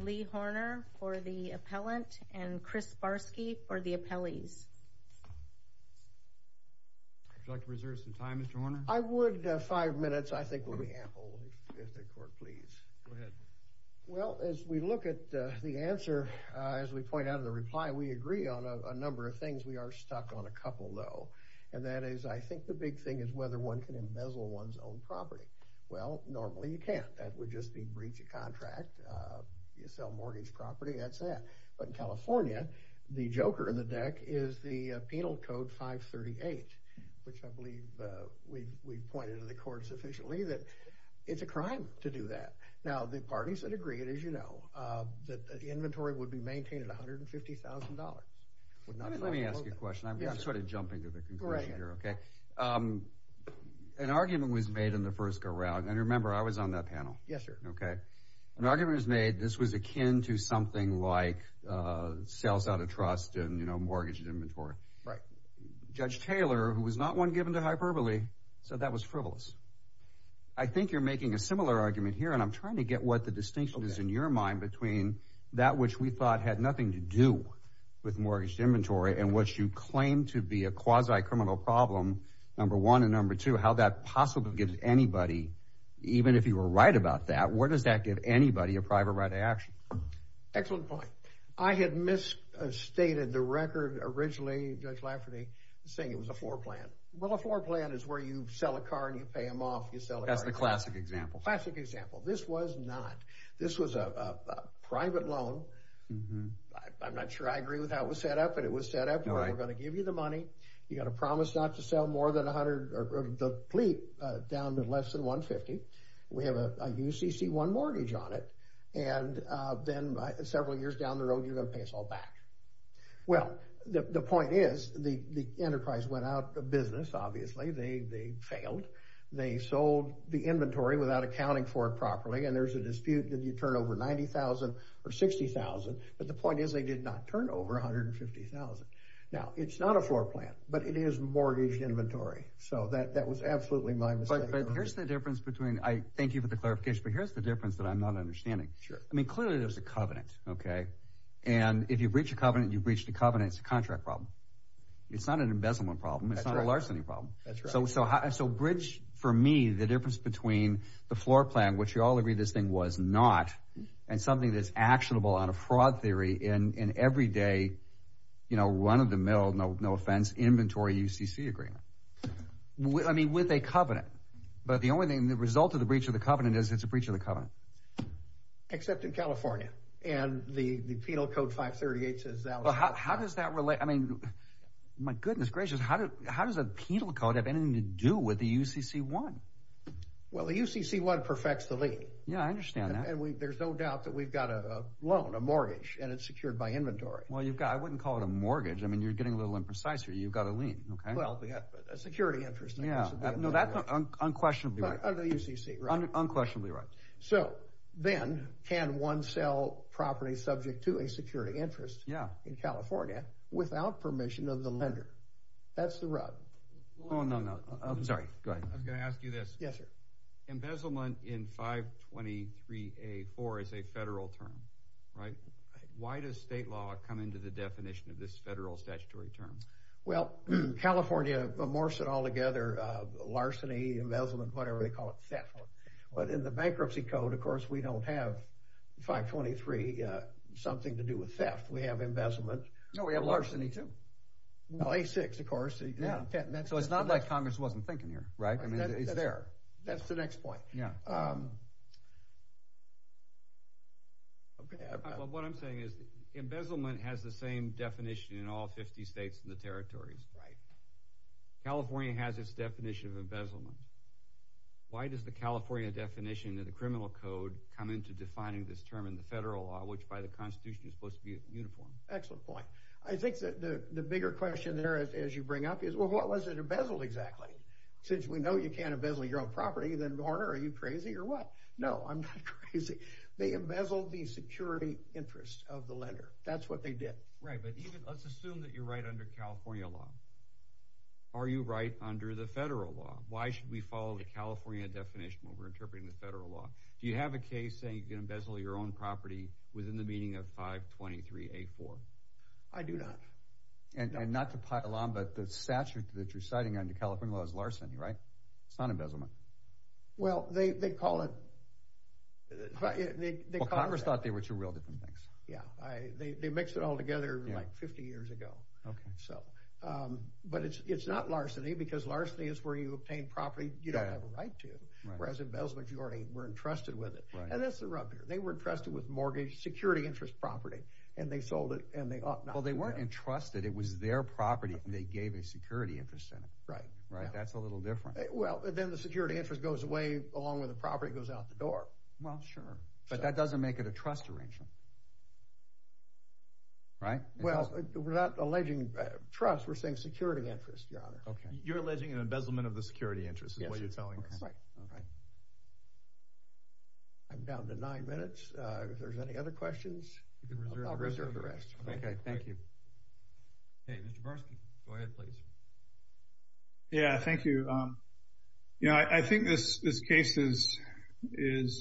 Lee Horner for the appellant, and Chris Barsky for the appellees. Would you like to reserve some time, Mr. Horner? I would. Five minutes, I think, would be ample, if the court please. Go ahead. Well, as we look at the answer, as we point out in the reply, we agree on a number of things. We are stuck on a couple, though. And that is, I think the big thing is whether one can embezzle one's own property. Well, normally you can't. That would just be breach of contract. You sell mortgage property. That's that. But in California, the joker in the deck is the Penal Code 538, which I believe we've pointed to the court sufficiently that it's a crime to do that. Now, the parties that agree, as you know, that the inventory would be maintained at $150,000. Let me ask you a question. I'm sort of jumping to the conclusion here. Okay. An argument was made in the first go-round. And remember, I was on that panel. Yes, sir. Okay. An argument was made. This was akin to something like sales out of trust and, you know, mortgage and inventory. Right. Judge Taylor, who was not one given to hyperbole, said that was frivolous. I think you're making a similar argument here, and I'm trying to get what the distinction is in your mind between that which we thought had nothing to do with mortgage and inventory and what you claim to be a quasi-criminal problem, number one. And number two, how that possibly gives anybody, even if you were right about that, where does that give anybody a private right of action? Excellent point. I had misstated the record originally, Judge Lafferty, saying it was a floor plan. Well, a floor plan is where you sell a car and you pay them off. That's the classic example. Classic example. This was not. This was a private loan. I'm not sure I agree with how it was set up, but it was set up. We're going to give you the money. You've got to promise not to sell more than 100 of the fleet down to less than 150. We have a UCC1 mortgage on it. And then several years down the road, you're going to pay us all back. Well, the point is the enterprise went out of business, obviously. They failed. They sold the inventory without accounting for it properly, and there's a dispute. Did you turn over $90,000 or $60,000? But the point is they did not turn over $150,000. Now, it's not a floor plan, but it is mortgage inventory. So that was absolutely my mistake. But here's the difference between – thank you for the clarification, but here's the difference that I'm not understanding. Clearly there's a covenant, and if you breach a covenant, you breach the covenant. It's a contract problem. It's not an embezzlement problem. It's not a larceny problem. So bridge, for me, the difference between the floor plan, which you all agree this thing was not, and something that's actionable on a fraud theory in everyday run-of-the-mill, no offense, inventory UCC agreement. I mean, with a covenant. But the only thing, the result of the breach of the covenant is it's a breach of the covenant. Except in California, and the Penal Code 538 says that was a fraud. How does that relate? I mean, my goodness gracious, how does a penal code have anything to do with the UCC-1? Well, the UCC-1 perfects the lien. Yeah, I understand that. And there's no doubt that we've got a loan, a mortgage, and it's secured by inventory. Well, I wouldn't call it a mortgage. I mean, you're getting a little imprecise here. You've got a lien. Well, a security interest. No, that's unquestionably right. Under UCC, right. Unquestionably right. So then, can one sell property subject to a security interest in California without permission of the lender? That's the rub. Oh, no, no. I'm sorry. Go ahead. I'm going to ask you this. Yes, sir. Embezzlement in 523A-4 is a federal term, right? Why does state law come into the definition of this federal statutory term? Well, California morphs it all together, larceny, embezzlement, whatever they call it, theft. But in the bankruptcy code, of course, we don't have 523 something to do with theft. We have embezzlement. No, we have larceny, too. Well, A-6, of course. So it's not like Congress wasn't thinking here, right? It's there. That's the next point. What I'm saying is embezzlement has the same definition in all 50 states and the territories. California has its definition of embezzlement. Why does the California definition in the criminal code come into defining this term in the federal law, which by the Constitution is supposed to be uniform? Excellent point. I think the bigger question there, as you bring up, is, well, what was it embezzled exactly? Since we know you can't embezzle your own property, then, Warner, are you crazy or what? No, I'm not crazy. They embezzled the security interest of the lender. That's what they did. Right. But let's assume that you're right under California law. Are you right under the federal law? Why should we follow the California definition when we're interpreting the federal law? Do you have a case saying you can embezzle your own property within the meaning of 523-A-4? I do not. And not to pile on, but the statute that you're citing under California law is larceny, right? It's not embezzlement. Well, they call it— Well, Congress thought they were two real different things. Yeah. They mixed it all together like 50 years ago. But it's not larceny because larceny is where you obtain property you don't have a right to. Whereas embezzlement, you already were entrusted with it. And that's the rub here. They were entrusted with mortgage security interest property, and they sold it, and they ought not to have. Well, they weren't entrusted. It was their property, and they gave a security interest in it. Right. That's a little different. Well, then the security interest goes away along with the property goes out the door. Well, sure. But that doesn't make it a trust arrangement, right? Well, we're not alleging trust. We're saying security interest, Your Honor. Okay. You're alleging an embezzlement of the security interest is what you're telling us. Yes. Right. All right. I'm down to nine minutes. If there's any other questions, I'll reserve the rest. Okay. Thank you. Okay. Mr. Barsky, go ahead, please. Yeah, thank you. You know, I think this case is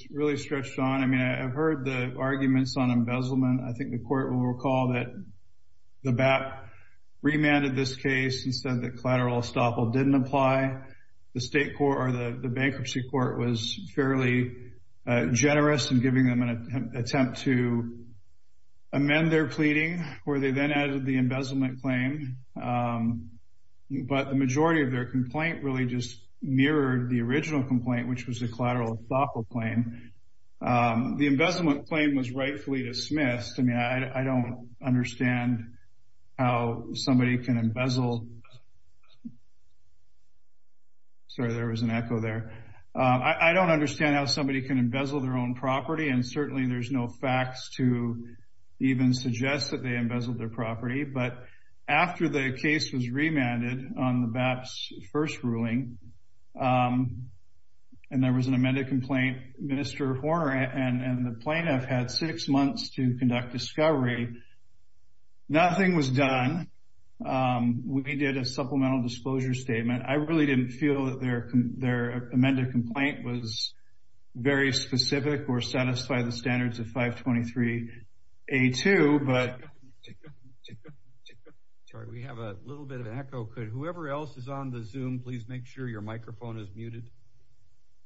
really stretched on. I mean, I've heard the arguments on embezzlement. I think the Court will recall that the BAP remanded this case and said that collateral estoppel didn't apply. The bankruptcy court was fairly generous in giving them an attempt to amend their pleading, where they then added the embezzlement claim. But the majority of their complaint really just mirrored the original complaint, which was the collateral estoppel claim. The embezzlement claim was rightfully dismissed. I mean, I don't understand how somebody can embezzle. Sorry, there was an echo there. I don't understand how somebody can embezzle their own property, and certainly there's no facts to even suggest that they embezzled their property. But after the case was remanded on the BAP's first ruling and there was an amended complaint, Minister Horner and the plaintiff had six months to conduct discovery. Nothing was done. We did a supplemental disclosure statement. I really didn't feel that their amended complaint was very specific or satisfied the standards of 523A2. Sorry, we have a little bit of an echo. Could whoever else is on the Zoom please make sure your microphone is muted?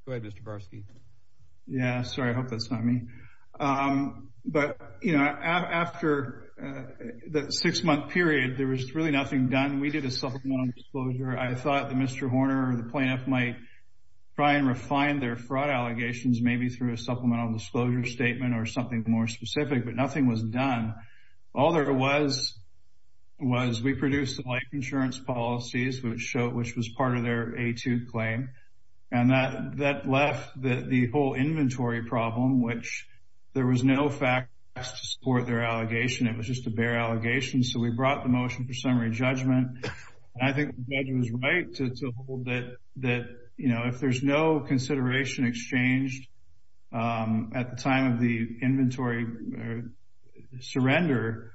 Go ahead, Mr. Varsky. Yeah, sorry, I hope that's not me. But, you know, after the six-month period, there was really nothing done. We did a supplemental disclosure. I thought that Minister Horner and the plaintiff might try and refine their fraud allegations maybe through a supplemental disclosure statement or something more specific, but nothing was done. All there was was we produced the life insurance policies, which was part of their A2 claim, and that left the whole inventory problem, which there was no facts to support their allegation. It was just a bare allegation. So we brought the motion for summary judgment. I think the judge was right to hold that, you know, if there's no consideration exchanged at the time of the inventory surrender,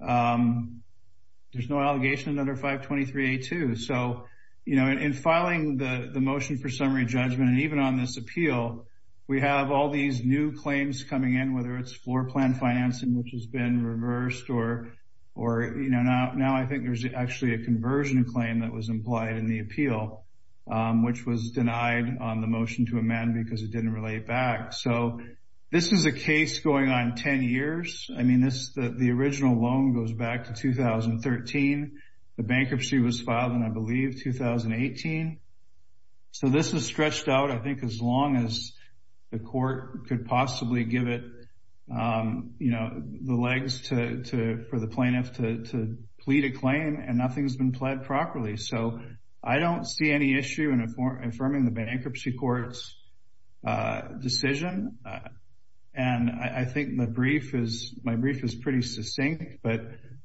there's no allegation under 523A2. So, you know, in filing the motion for summary judgment and even on this appeal, we have all these new claims coming in, whether it's floor plan financing, which has been reversed or, you know, now I think there's actually a conversion claim that was implied in the appeal, which was denied on the motion to amend because it didn't relate back. So this is a case going on 10 years. I mean, the original loan goes back to 2013. The bankruptcy was filed in, I believe, 2018. So this was stretched out, I think, as long as the court could possibly give it, you know, the legs for the plaintiff to plead a claim, and nothing's been pled properly. So I don't see any issue in affirming the bankruptcy court's decision. And I think my brief is pretty succinct, but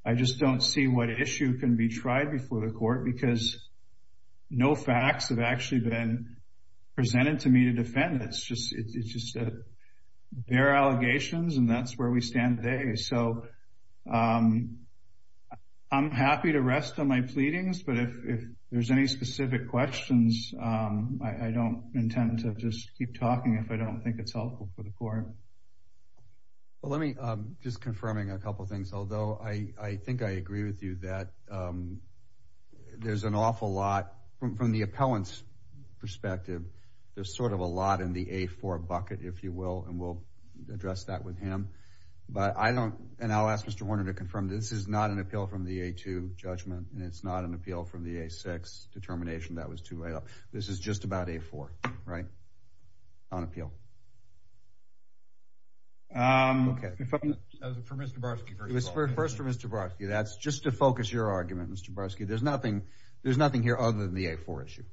I just don't see what issue can be tried before the court because no facts have actually been presented to me to defend. It's just bare allegations, and that's where we stand today. So I'm happy to rest on my pleadings, but if there's any specific questions, I don't intend to just keep talking if I don't think it's helpful for the court. Well, let me just confirming a couple things, although I think I agree with you that there's an awful lot, from the appellant's perspective, there's sort of a lot in the A4 bucket, if you will, and we'll address that with him. But I don't, and I'll ask Mr. Warner to confirm, this is not an appeal from the A2 judgment, and it's not an appeal from the A6 determination that was two way up. This is just about A4, right, on appeal. Okay. That was for Mr. Barsky. It was first for Mr. Barsky. That's just to focus your argument, Mr. Barsky. There's nothing here other than the A4 issue.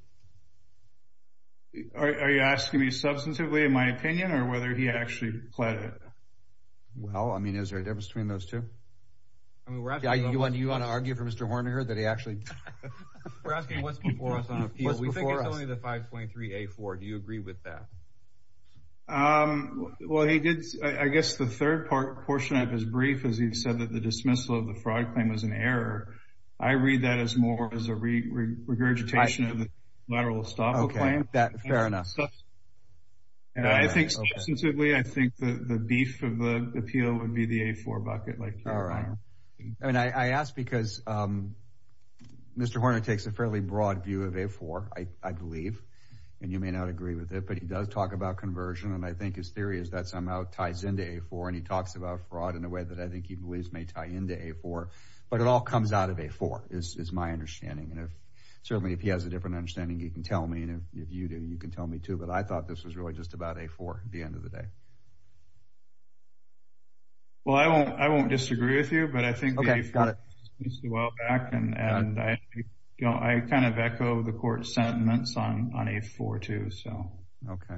Are you asking me substantively, in my opinion, or whether he actually pled it? Well, I mean, is there a difference between those two? Do you want to argue for Mr. Horniger that he actually? We're asking what's before us on appeal. We think it's only the 523A4. Do you agree with that? Well, he did, I guess, the third portion of his brief, is he said that the dismissal of the fraud claim was an error. I read that as more as a regurgitation of the lateral estoppel claim. Okay. Fair enough. And I think substantively, I think the beef of the appeal would be the A4 bucket. All right. I mean, I ask because Mr. Horniger takes a fairly broad view of A4, I believe, and you may not agree with it, but he does talk about conversion, and I think his theory is that somehow ties into A4, and he talks about fraud in a way that I think he believes may tie into A4. But it all comes out of A4, is my understanding. And certainly, if he has a different understanding, he can tell me, and if you do, you can tell me, too. But I thought this was really just about A4 at the end of the day. Well, I won't disagree with you, but I think that he speaks a while back, and I kind of echo the court's sentiments on A4, too. So, okay.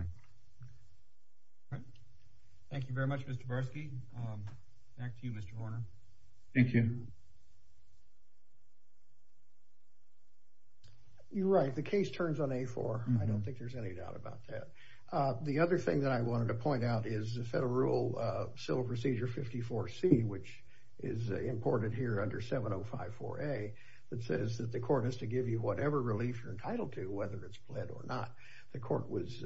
Thank you very much, Mr. Barsky. Back to you, Mr. Horner. Thank you. You're right. The case turns on A4. I don't think there's any doubt about that. The other thing that I wanted to point out is the federal rule, Civil Procedure 54C, which is imported here under 7054A, that says that the court has to give you whatever relief you're entitled to, whether it's pled or not. The court was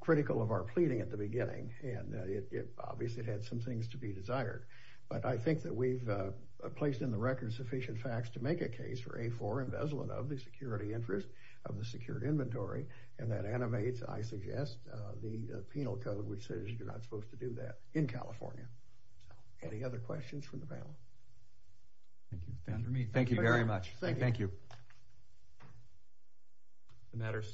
critical of our pleading at the beginning, and it obviously had some things to be desired. But I think that we've placed in the record sufficient facts to make a case for A4 investment of the security interest, of the secured inventory, and that animates, I suggest, the penal code, which says you're not supposed to do that in California. Any other questions from the panel? Thank you. Thank you very much. Thank you. The matter is submitted.